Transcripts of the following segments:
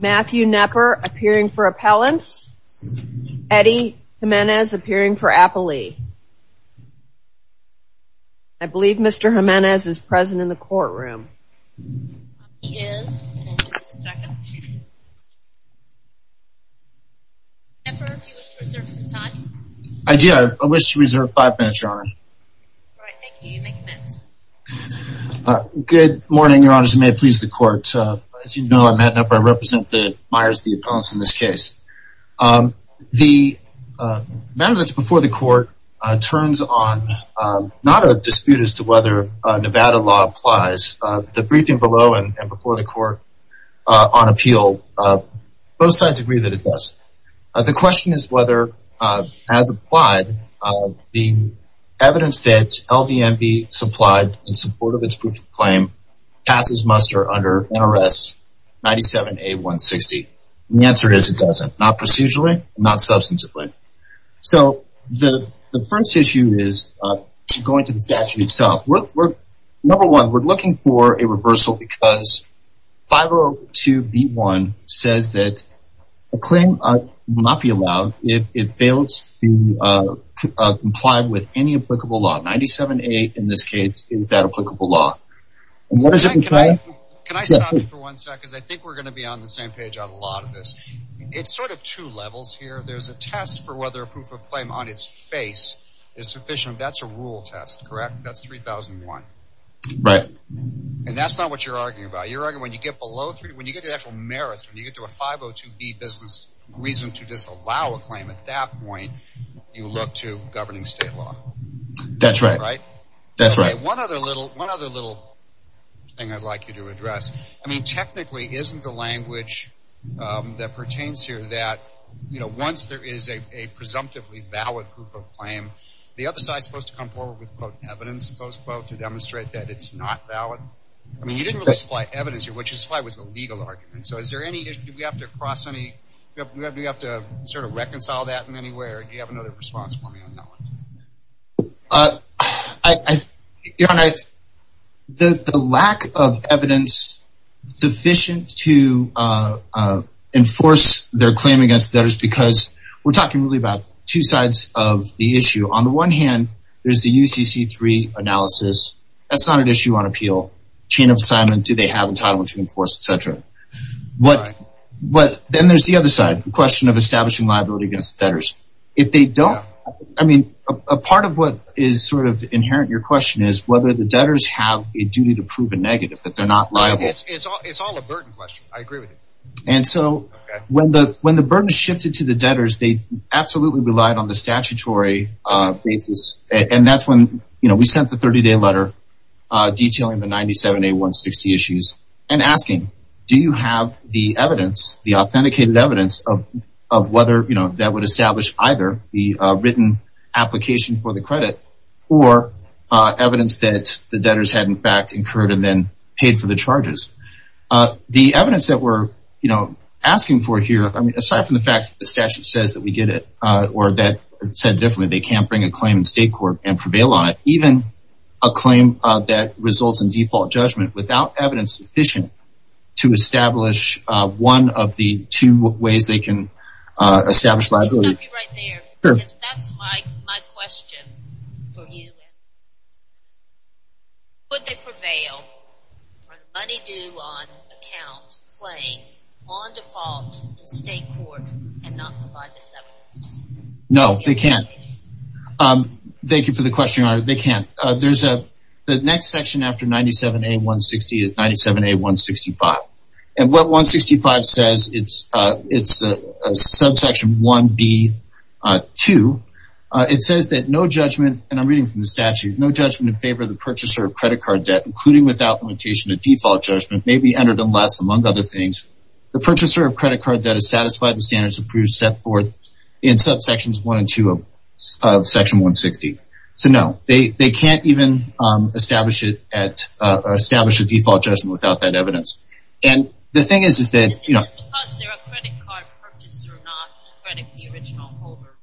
Matthew Knepper appearing for appellants. Eddie Jimenez appearing for appellee. I believe Mr. Jimenez is present in the courtroom. He is. Just a second. Knepper, do you wish to reserve some time? I do. I wish to reserve five minutes, Your Honor. All right. Thank you. You may commence. Good morning, Your Honors, and may it please the Court. As you know, I'm Matt Knepper. I represent the Myers v. Appellants in this case. The matter that's before the Court turns on not a dispute as to whether Nevada law applies. The briefing below and before the Court on appeal, both sides agree that it does. The question is whether, as applied, the evidence that LVMB supplied in support of its proof of claim passes muster under NRS 97A160. The answer is it doesn't, not procedurally, not substantively. So the first issue is going to the statute itself. Number one, we're looking for a reversal because 502B1 says that a claim will not be allowed if it fails to comply with any applicable law. 97A, in this case, is that applicable law. Can I stop you for one second? I think we're going to be on the same page on a lot of this. It's sort of two levels here. There's a test for whether a proof of claim on its face is sufficient. That's a rule test, correct? That's 3001. Right. And that's not what you're arguing about. You're arguing when you get below, when you get to the actual merits, when you get to a 502B business reason to disallow a claim, at that point, you look to governing state law. That's right. Right? That's right. One other little thing I'd like you to address. I mean, technically, isn't the language that pertains here that, you know, once there is a presumptively valid proof of claim, the other side is supposed to come forward with, quote, evidence, close quote, to demonstrate that it's not valid? I mean, you didn't really supply evidence here. What you supplied was a legal argument. So is there any, do we have to cross any, do we have to sort of reconcile that in any way, or do you have another response for me on that one? Your Honor, the lack of evidence sufficient to enforce their claim against debtors, because we're talking really about two sides of the issue. On the one hand, there's the UCC3 analysis. That's not an issue on appeal. Chain of assignment, do they have entitlement to enforce, et cetera. Then there's the other side, the question of establishing liability against debtors. If they don't, I mean, a part of what is sort of inherent in your question is whether the debtors have a duty to prove a negative, that they're not liable. It's all a burden question. I agree with you. And so when the burden shifted to the debtors, they absolutely relied on the statutory basis. And that's when, you know, we sent the 30-day letter detailing the 97A160 issues and asking, do you have the evidence, the authenticated evidence, of whether that would establish either the written application for the credit or evidence that the debtors had, in fact, incurred and then paid for the charges. The evidence that we're, you know, asking for here, aside from the fact that the statute says that we get it or that, said differently, they can't bring a claim in state court and prevail on it, even a claim that results in default judgment without evidence sufficient to establish one of the two ways they can establish liability. Let me stop you right there. Sure. Because that's my question for you. Would they prevail on a money-due-on-account claim on default in state court and not provide this evidence? No, they can't. Thank you for the question, Your Honor. They can't. The next section after 97A160 is 97A165. And what 165 says, it's subsection 1B2. It says that no judgment, and I'm reading from the statute, no judgment in favor of the purchaser of credit card debt, including without limitation of default judgment, may be entered unless, among other things, the purchaser of credit card debt is satisfied with standards approved, set forth, in subsections 1 and 2 of section 160. So, no, they can't even establish a default judgment without that evidence. And the thing is, is that, you know. It's because they're a credit card purchaser, not credit the original holder.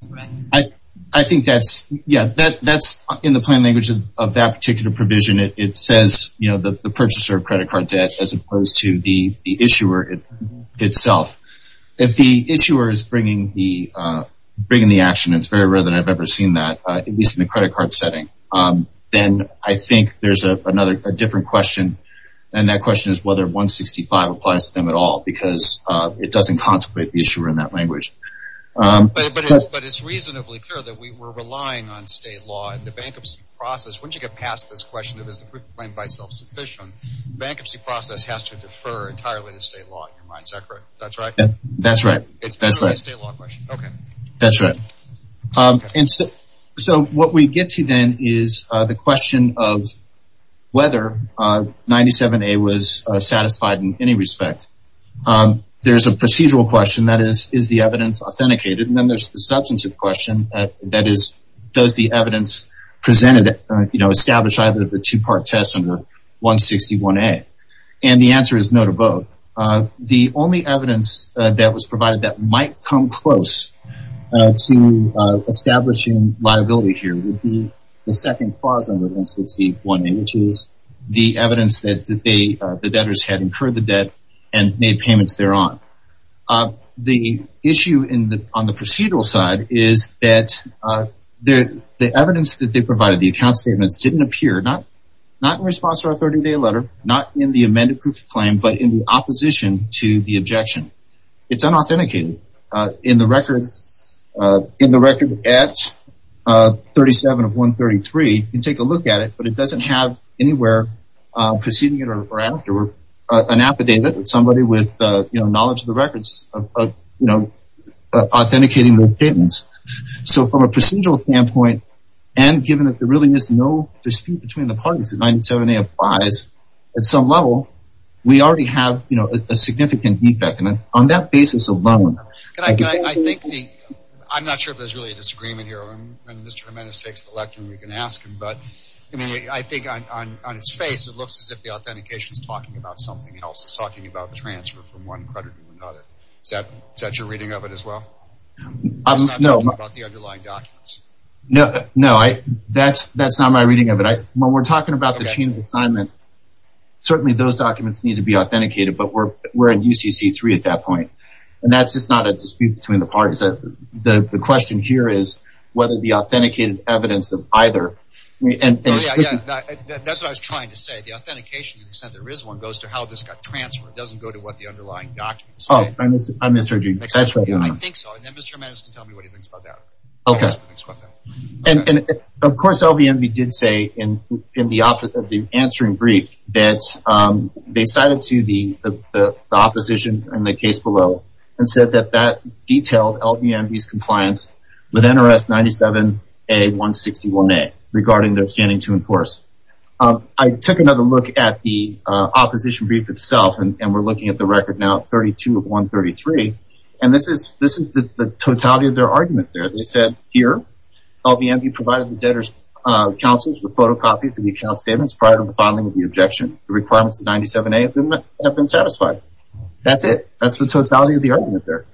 That's correct. I think that's, yeah, that's in the plain language of that particular provision. It says, you know, the purchaser of credit card debt as opposed to the issuer itself. If the issuer is bringing the action, and it's very rare that I've ever seen that, at least in the credit card setting, then I think there's a different question, and that question is whether 165 applies to them at all, because it doesn't contemplate the issuer in that language. But it's reasonably clear that we're relying on state law in the bankruptcy process. Once you get past this question of is the proof of claim by itself sufficient, the bankruptcy process has to defer entirely to state law, in my mind. That's right. That's right. It's purely a state law question. Okay. That's right. And so what we get to then is the question of whether 97A was satisfied in any respect. There's a procedural question, that is, is the evidence authenticated? And then there's the substantive question, that is, does the evidence presented, you know, establish either of the two-part tests under 161A? And the answer is no to both. The only evidence that was provided that might come close to establishing liability here would be the second clause under 161A, which is the evidence that the debtors had incurred the debt and made payments thereon. The issue on the procedural side is that the evidence that they provided, the account statements, didn't appear, not in response to our 30-day letter, not in the amended proof of claim, but in the opposition to the objection. It's unauthenticated. In the record at 37 of 133, you can take a look at it, but it doesn't have anywhere preceding it or after, or an affidavit of somebody with, you know, knowledge of the records, you know, authenticating those statements. So from a procedural standpoint, and given that there really is no dispute between the parties that 97A applies, at some level, we already have, you know, a significant defect. And on that basis alone, I think the – I'm not sure if there's really a disagreement here. When Mr. Jimenez takes the lectern, we can ask him. But, I mean, I think on its face, it looks as if the authentication is talking about something else. It's talking about the transfer from one credit to another. Is that your reading of it as well? It's not talking about the underlying documents. No, that's not my reading of it. When we're talking about the chain of assignment, certainly those documents need to be authenticated, but we're in UCC-3 at that point. And that's just not a dispute between the parties. The question here is whether the authenticated evidence of either – Yeah, yeah, that's what I was trying to say. The authentication, to the extent there is one, goes to how this got transferred. It doesn't go to what the underlying documents say. I misheard you. I think so. And then Mr. Jimenez can tell me what he thinks about that. Okay. And, of course, LVMV did say in the answering brief that they cited to the opposition in the case below and said that that detailed LVMV's compliance with NRS 97-A-161A regarding their standing to enforce. I took another look at the opposition brief itself, and we're looking at the record now of 32 of 133, and this is the totality of their argument there. They said here, LVMV provided the debtors' counsels with photocopies of the account statements prior to the filing of the objection. The requirements of 97-A have been satisfied. That's it. That's the totality of the argument there.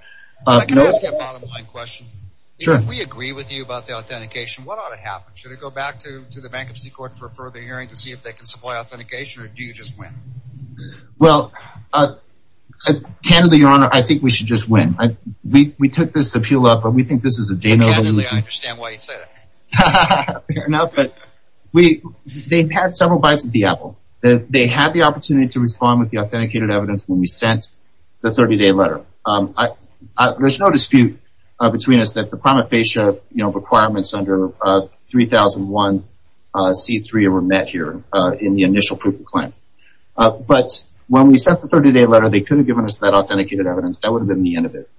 Can I ask you a bottom-line question? Sure. If we agree with you about the authentication, what ought to happen? Should it go back to the bankruptcy court for a further hearing to see if they can supply authentication, or do you just win? Well, candidly, Your Honor, I think we should just win. We took this appeal up, but we think this is a day in the life of LVMV. Candidly, I understand why you'd say that. Fair enough, but they've had several bites of the apple. They had the opportunity to respond with the authenticated evidence when we sent the 30-day letter. There's no dispute between us that the prima facie requirements under 3001C3 were met here in the initial proof of claim. But when we sent the 30-day letter, they could have given us that authenticated evidence. That would have been the end of it.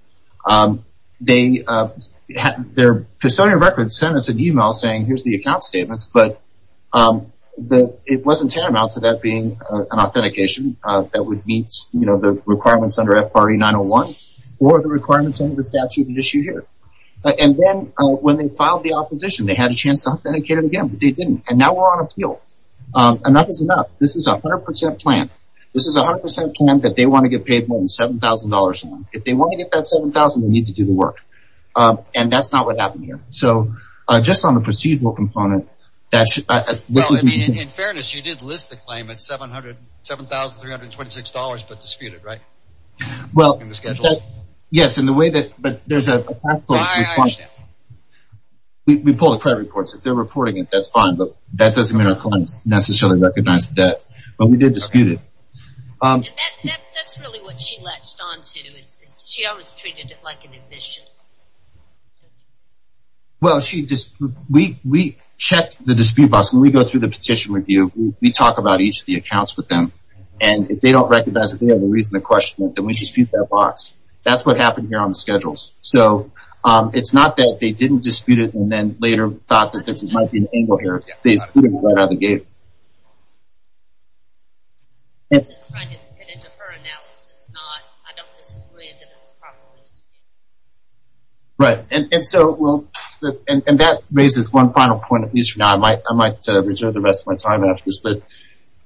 Their custodian of records sent us an e-mail saying, here's the account statements, but it wasn't tantamount to that being an authentication that would meet the requirements under FRE 901 or the requirements under the statute at issue here. And then when they filed the opposition, they had a chance to authenticate it again, but they didn't. And now we're on appeal. Enough is enough. This is a 100% plan. This is a 100% plan that they want to get paid more than $7,000 for. If they want to get that $7,000, they need to do the work. And that's not what happened here. So just on the procedural component, that should – In fairness, you did list the claim at $7,326, but disputed, right? In the schedule? Yes, in the way that – but there's a – I understand. We pull the credit reports. If they're reporting it, that's fine, but that doesn't mean our clients necessarily recognize the debt. But we did dispute it. That's really what she latched onto is she always treated it like an admission. Well, we checked the dispute box. When we go through the petition review, we talk about each of the accounts with them. And if they don't recognize that they have a reason to question it, then we dispute that box. That's what happened here on the schedules. So it's not that they didn't dispute it and then later thought that there might be an angle here. They disputed it right out of the gate. I'm just trying to get into her analysis. I don't disagree that it was probably disputed. Right. And so we'll – and that raises one final point, at least for now. I might reserve the rest of my time after this.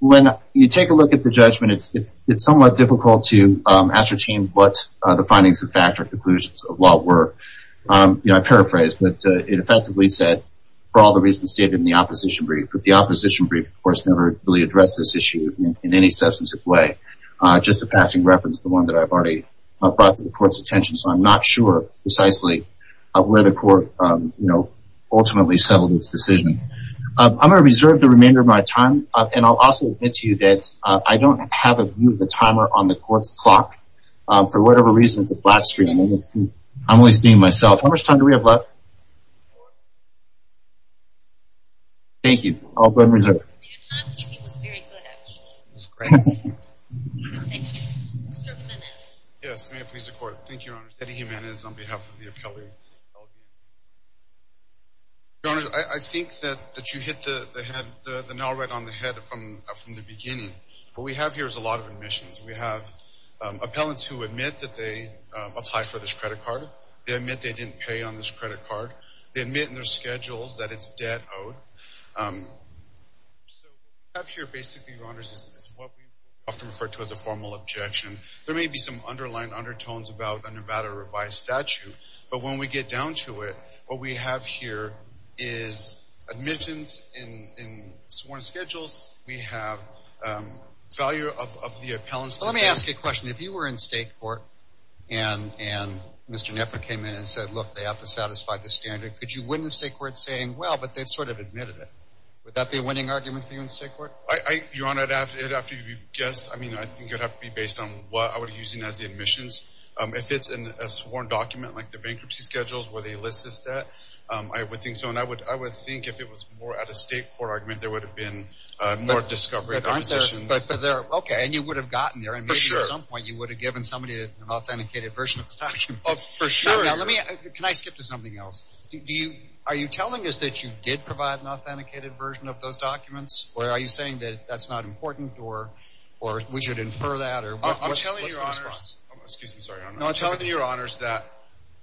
When you take a look at the judgment, it's somewhat difficult to ascertain what the findings of fact or conclusions of law were. I paraphrase, but it effectively said, for all the reasons stated in the opposition brief. But the opposition brief, of course, never really addressed this issue in any substantive way. Just a passing reference, the one that I've already brought to the court's attention. So I'm not sure precisely where the court ultimately settled its decision. I'm going to reserve the remainder of my time, and I'll also admit to you that I don't have a view of the timer on the court's clock. For whatever reason, it's a flat screen. I'm only seeing myself. How much time do we have left? Thank you. I'll go ahead and reserve. Your timekeeping was very good, actually. It was great. Thank you. Mr. Jimenez. Yes, may it please the court. Thank you, Your Honor. Teddy Jimenez on behalf of the appellee. Your Honor, I think that you hit the nail right on the head from the beginning. What we have here is a lot of admissions. We have appellants who admit that they apply for this credit card. They admit they didn't pay on this credit card. They admit in their schedules that it's debt owed. What we have here, basically, Your Honor, is what we often refer to as a formal objection. There may be some underlying undertones about a Nevada revised statute, but when we get down to it, what we have here is admissions in sworn schedules. We have value of the appellant's decision. Let me ask you a question. If you were in state court and Mr. Knepper came in and said, look, they have to satisfy this standard, could you win the state court saying, well, but they've sort of admitted it? Would that be a winning argument for you in state court? Your Honor, it would have to be guessed. I mean, I think it would have to be based on what I would be using as the admissions. If it's in a sworn document, like the bankruptcy schedules where they list this debt, I would think so, and I would think if it was more at a state court argument, there would have been more discovery. Okay, and you would have gotten there. For sure. And maybe at some point you would have given somebody an authenticated version of the document. For sure. Can I skip to something else? Are you telling us that you did provide an authenticated version of those documents, or are you saying that that's not important or we should infer that? I'm telling you, Your Honors, that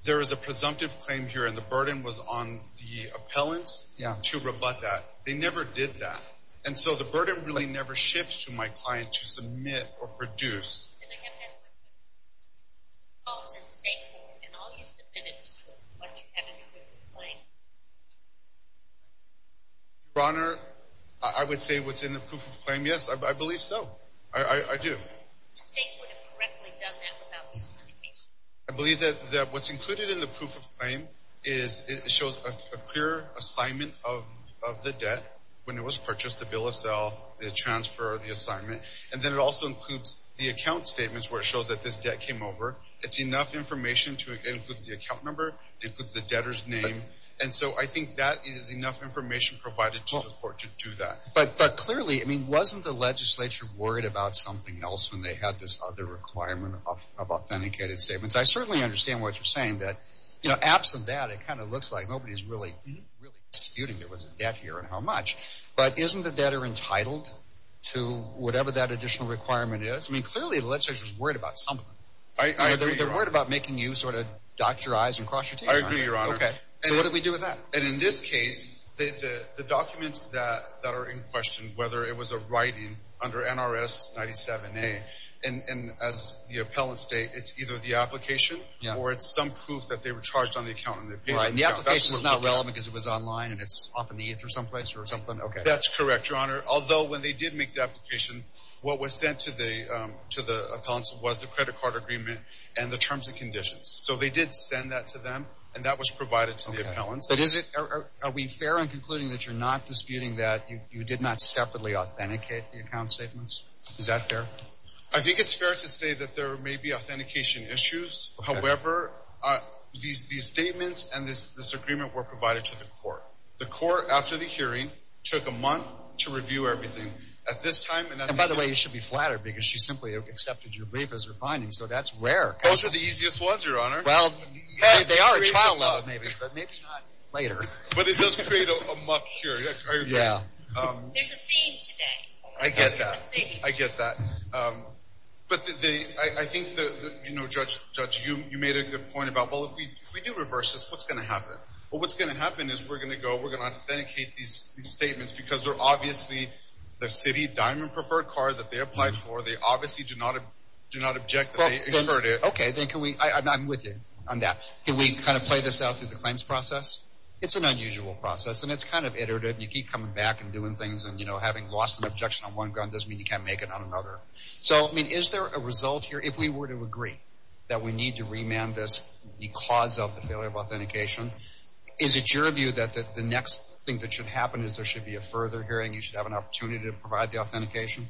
there is a presumptive claim here, and the burden was on the appellants to rebut that. They never did that. And so the burden really never shifts to my client to submit or produce. Then I have to ask a question. If it was at a state court and all you submitted was what you have in the proof of claim. Your Honor, I would say what's in the proof of claim, yes, I believe so. I do. The state would have correctly done that without the authentication. I believe that what's included in the proof of claim is it shows a clear assignment of the debt, when it was purchased, the bill of sale, the transfer, the assignment, and then it also includes the account statements where it shows that this debt came over. It's enough information to include the account number, it includes the debtor's name, and so I think that is enough information provided to the court to do that. But clearly, I mean, wasn't the legislature worried about something else when they had this other requirement of authenticated statements? I certainly understand what you're saying, that, you know, absent that, it kind of looks like nobody's really disputing there was a debt here and how much. But isn't the debtor entitled to whatever that additional requirement is? I mean, clearly the legislature is worried about something. I agree, Your Honor. They're worried about making you sort of dot your i's and cross your t's. I agree, Your Honor. Okay, so what do we do with that? And in this case, the documents that are in question, whether it was a writing under NRS 97A, and as the appellants state, it's either the application or it's some proof that they were charged on the account. Right, and the application is not relevant because it was online and it's off in the ether someplace or something? That's correct, Your Honor, although when they did make the application, what was sent to the appellants was the credit card agreement and the terms and conditions. So they did send that to them, and that was provided to the appellants. But are we fair in concluding that you're not disputing that you did not separately authenticate the account statements? Is that fair? I think it's fair to say that there may be authentication issues. However, these statements and this agreement were provided to the court. The court, after the hearing, took a month to review everything at this time. And by the way, you should be flattered because she simply accepted your brief as her findings, so that's rare. Those are the easiest ones, Your Honor. Well, they are at trial level maybe, but maybe not later. But it does create a muck here. I get that. There's a theme. But I think, Judge, you made a good point about, well, if we do reverse this, what's going to happen? Well, what's going to happen is we're going to go, we're going to authenticate these statements because they're obviously the city diamond preferred card that they applied for. They obviously do not object that they incurred it. Okay, then I'm with you on that. Can we kind of play this out through the claims process? It's an unusual process, and it's kind of iterative, and you keep coming back and doing things, and having lost an objection on one gun doesn't mean you can't make it on another. So, I mean, is there a result here? If we were to agree that we need to remand this because of the failure of authentication, is it your view that the next thing that should happen is there should be a further hearing? You should have an opportunity to provide the authentication?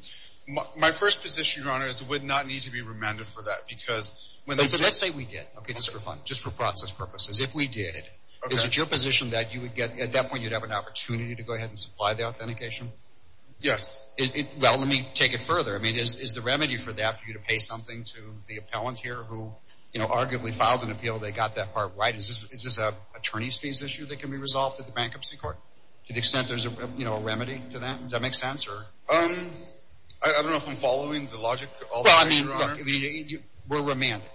My first position, Your Honor, is it would not need to be remanded for that because when they did— Let's say we did, okay, just for fun, just for process purposes. If we did, is it your position that you would get, at that point, you'd have an opportunity to go ahead and supply the authentication? Yes. Well, let me take it further. I mean, is the remedy for that for you to pay something to the appellant here who arguably filed an appeal, they got that part right? Is this an attorney's fees issue that can be resolved at the bankruptcy court? To the extent there's a remedy to that? Does that make sense? I don't know if I'm following the logic all the way, Your Honor. We're remanding.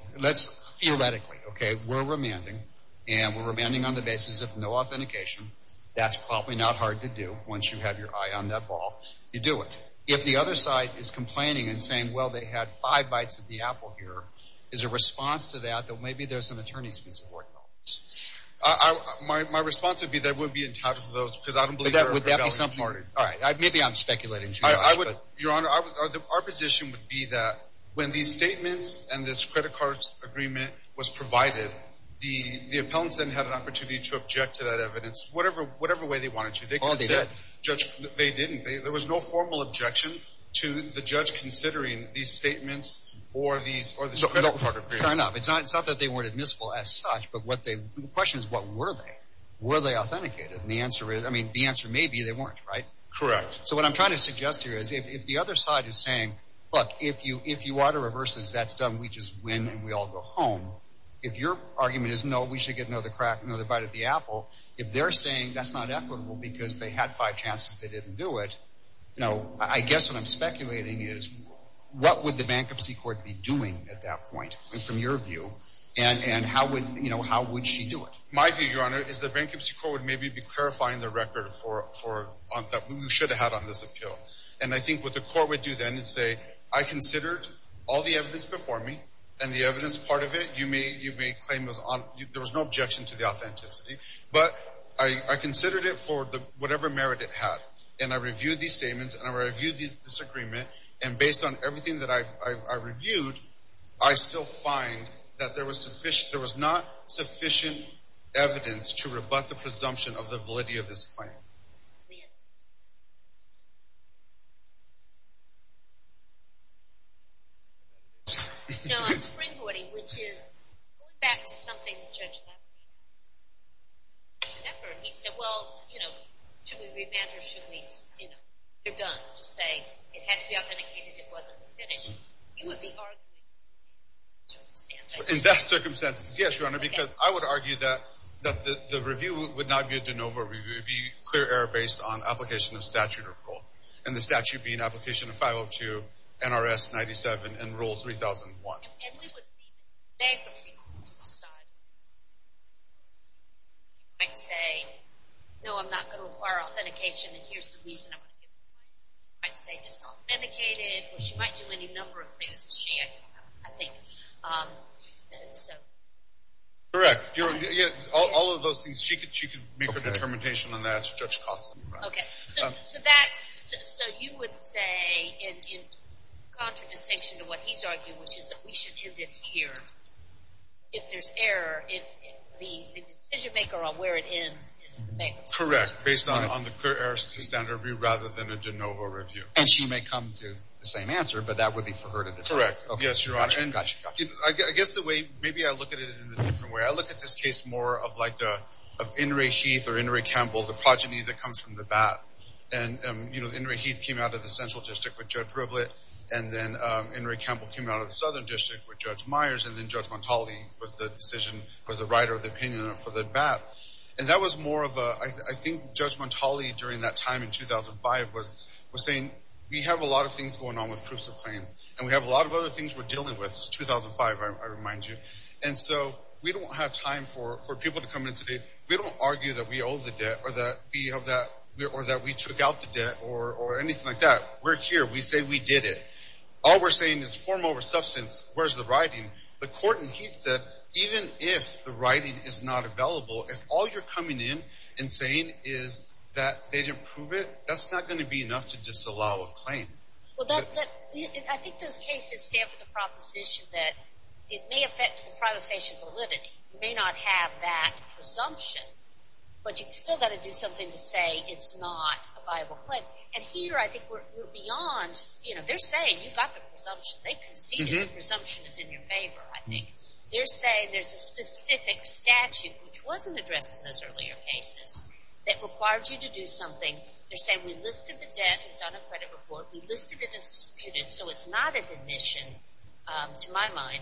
Theoretically, okay, we're remanding, and we're remanding on the basis of no authentication. That's probably not hard to do once you have your eye on that ball. You do it. If the other side is complaining and saying, well, they had five bites of the apple here, is a response to that that maybe there's an attorney's fees award involved? My response would be that I wouldn't be entitled to those because I don't believe they're valid parties. All right, maybe I'm speculating too much. Your Honor, our position would be that when these statements and this credit card agreement was provided, the appellants then had an opportunity to object to that evidence, whatever way they wanted to. They didn't. There was no formal objection to the judge considering these statements or this credit card agreement. Fair enough. It's not that they weren't admissible as such, but the question is, what were they? Were they authenticated? And the answer is, I mean, the answer may be they weren't, right? Correct. So what I'm trying to suggest here is if the other side is saying, look, if you are to reverse this, that's done, we just win and we all go home. If your argument is, no, we should get another bite of the apple, if they're saying that's not equitable because they had five chances they didn't do it, I guess what I'm speculating is what would the bankruptcy court be doing at that point from your view and how would she do it? My view, Your Honor, is the bankruptcy court would maybe be clarifying the record that we should have had on this appeal. And I think what the court would do then is say, I considered all the evidence before me and the evidence part of it. You may claim there was no objection to the authenticity. But I considered it for whatever merit it had. And I reviewed these statements and I reviewed this agreement. And based on everything that I reviewed, I still find that there was not sufficient evidence to rebut the presumption of the validity of this claim. No, I'm springboarding, which is going back to something that Judge Lepper said. He said, well, you know, should we remand or should we, you know, you're done. Just say it had to be authenticated, it wasn't finished. You would be arguing in those circumstances. In those circumstances, yes, Your Honor, because I would argue that the review would not be a de novo review. It would be clear error based on application of statute or rule. And the statute being application of 502 NRS 97 and rule 3001. And we would be bankruptcy court to decide. I'd say, no, I'm not going to require authentication, and here's the reason I'm going to do it. I'd say just authenticate it, or she might do any number of things that she had, I think. Correct. All of those things, she could make her determination on that. Okay. So you would say in contradistinction to what he's arguing, which is that we should end it here. If there's error, the decision maker on where it ends is the bankruptcy court. Correct. Based on the clear error standard review rather than a de novo review. And she may come to the same answer, but that would be for her to decide. Correct. Yes, Your Honor. I guess the way, maybe I look at it in a different way. I look at this case more of like of In re Heath or In re Campbell, the progeny that comes from the BAP. And, you know, In re Heath came out of the central district with Judge Riblett. And then In re Campbell came out of the southern district with Judge Myers. And then Judge Montali was the decision, was the writer of the opinion for the BAP. And that was more of a, I think Judge Montali during that time in 2005 was saying, we have a lot of things going on with proofs of claim. And we have a lot of other things we're dealing with. It's 2005, I remind you. And so we don't have time for people to come in today. We don't argue that we owe the debt or that we took out the debt or anything like that. We're here. We say we did it. All we're saying is form over substance. Where's the writing? The court in Heath said, even if the writing is not available, if all you're coming in and saying is that they didn't prove it, that's not going to be enough to disallow a claim. Well, I think those cases stand for the proposition that it may affect the privation validity. You may not have that presumption, but you've still got to do something to say it's not a viable claim. And here I think we're beyond, you know, they're saying you've got the presumption. They conceded the presumption is in your favor, I think. They're saying there's a specific statute, which wasn't addressed in those earlier cases, that required you to do something. They're saying we listed the debt. It was on a credit report. We listed it as disputed. So it's not an admission to my mind.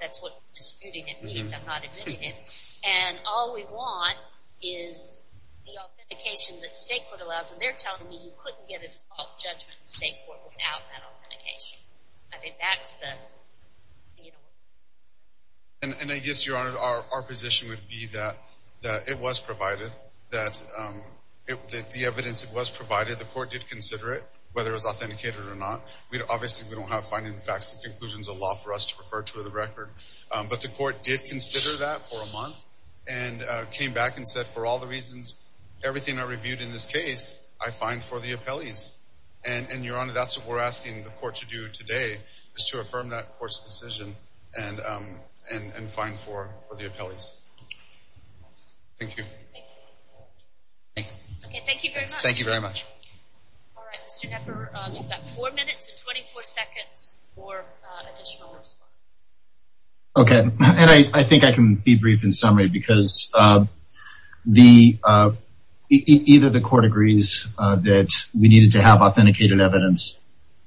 That's what disputing it means. I'm not admitting it. And all we want is the authentication that state court allows. And they're telling me you couldn't get a default judgment in state court without that authentication. I think that's the, you know. And I guess, Your Honor, our position would be that it was provided, that the evidence that was provided, the court did consider it, whether it was authenticated or not. Obviously we don't have finding facts and conclusions of law for us to refer to in the record. But the court did consider that for a month and came back and said, for all the reasons, everything I reviewed in this case, I find for the appellees. And, Your Honor, that's what we're asking the court to do today, is to affirm that court's decision and find for the appellees. Thank you. Okay. Thank you very much. Thank you very much. All right. Mr. Knepper, you've got four minutes and 24 seconds for additional response. Okay. And I think I can be brief in summary, because either the court agrees that we needed to have authenticated evidence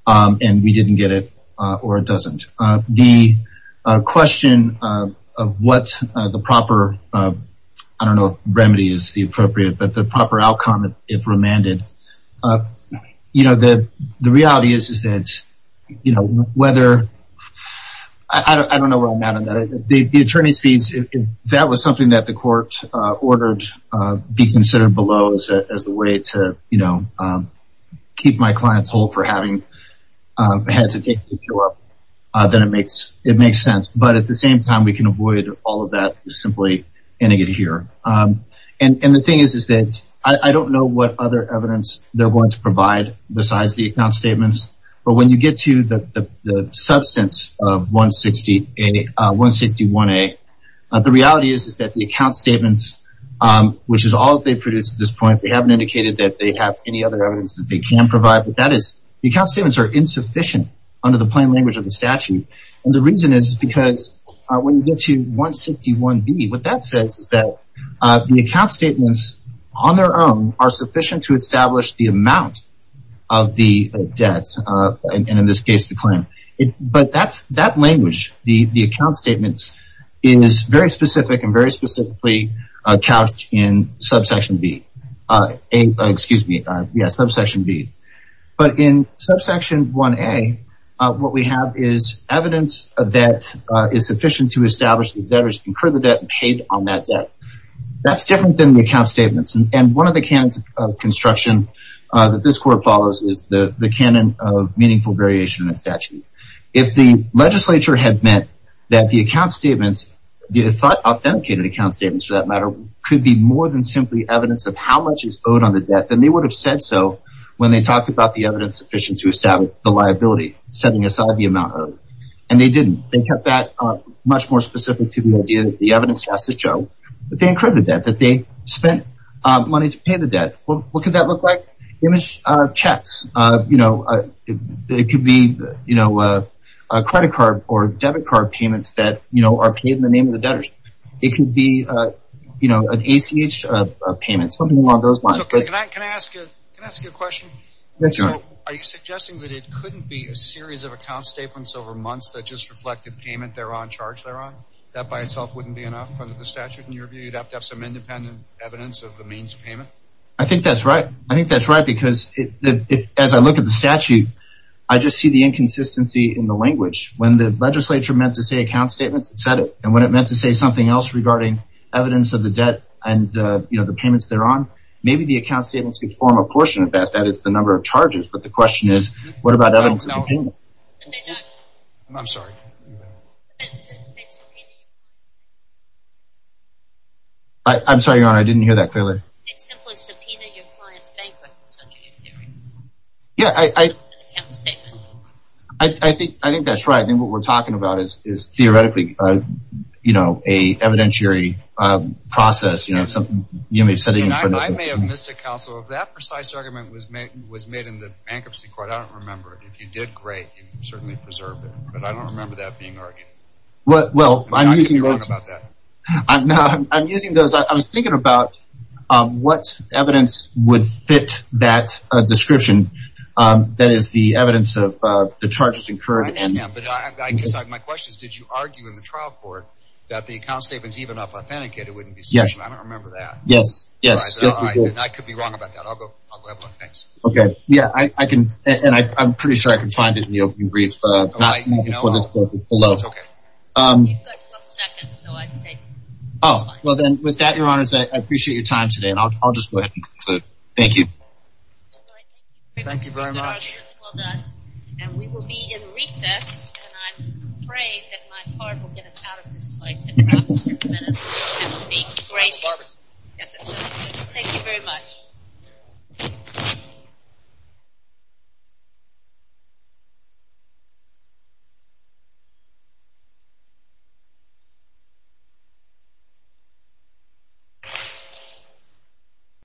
and we didn't get it, or it doesn't. The question of what the proper, I don't know if remedy is the appropriate, but the proper outcome, if remanded, you know, the reality is that, you know, whether, I don't know where I'm at on that. The attorney's fees, if that was something that the court ordered be considered below as a way to, you know, keep my clients whole for having to hesitate to show up, then it makes sense. But at the same time, we can avoid all of that simply ending it here. And the thing is that I don't know what other evidence they're going to provide besides the account statements. But when you get to the substance of 161A, the reality is that the account statements, which is all they've produced at this point, they haven't indicated that they have any other evidence that they can provide, but that is the account statements are insufficient under the plain language of the statute. And the reason is because when you get to 161B, what that says is that the account statements on their own are sufficient to establish the amount of the debt, and in this case the claim. But that language, the account statements, is very specific and very specifically couched in subsection B. Excuse me, yeah, subsection B. But in subsection 1A, what we have is evidence that is sufficient to establish that debtors incurred the debt and paid on that debt. That's different than the account statements. And one of the canons of construction that this court follows is the canon of meaningful variation in a statute. If the legislature had meant that the account statements, the authenticated account statements for that matter, could be more than simply evidence of how much is owed on the debt, then they would have said so when they talked about the evidence sufficient to establish the liability, setting aside the amount owed. And they didn't. They kept that much more specific to the idea that the evidence has to show that they incurred the debt, that they spent money to pay the debt. What could that look like? Image checks. It could be credit card or debit card payments that are paid in the name of the debtors. It could be an ACH payment, something along those lines. Can I ask you a question? Sure. Are you suggesting that it couldn't be a series of account statements over months that just reflected payment thereon, charge thereon? That by itself wouldn't be enough under the statute in your view? You'd have to have some independent evidence of the means of payment? I think that's right. I think that's right because as I look at the statute, I just see the inconsistency in the language. When the legislature meant to say account statements, it said it. And when it meant to say something else regarding evidence of the debt and, you know, the payments thereon, maybe the account statements could form a portion of that. That is the number of charges. But the question is what about evidence of the payment? I'm sorry. I'm sorry, Your Honor. I didn't hear that clearly. It's simply subpoenaing your client's bank records under your theory. Yeah, I think that's right. I think what we're talking about is theoretically, you know, an evidentiary process. I may have missed it, counsel. If that precise argument was made in the bankruptcy court, I don't remember it. If you did, great. You certainly preserved it. But I don't remember that being argued. Well, I'm using those. I was thinking about what evidence would fit that description. That is, the evidence of the charges incurred. I am. But I guess my question is, did you argue in the trial court that the account statement is even if authenticated? Yes. I don't remember that. Yes, yes. I could be wrong about that. I'll go have a look. Thanks. Okay. Yeah, I can. And I'm pretty sure I can find it in the opening brief. All right. Okay. You've got 12 seconds, so I'd say. Oh, well, then with that, Your Honors, I appreciate your time today, and I'll just go ahead and conclude. Thank you. Thank you very much. Well done. And we will be in recess, and I'm afraid that my heart will get us out of this place in perhaps a few minutes. And be gracious. Thank you very much. Thank you.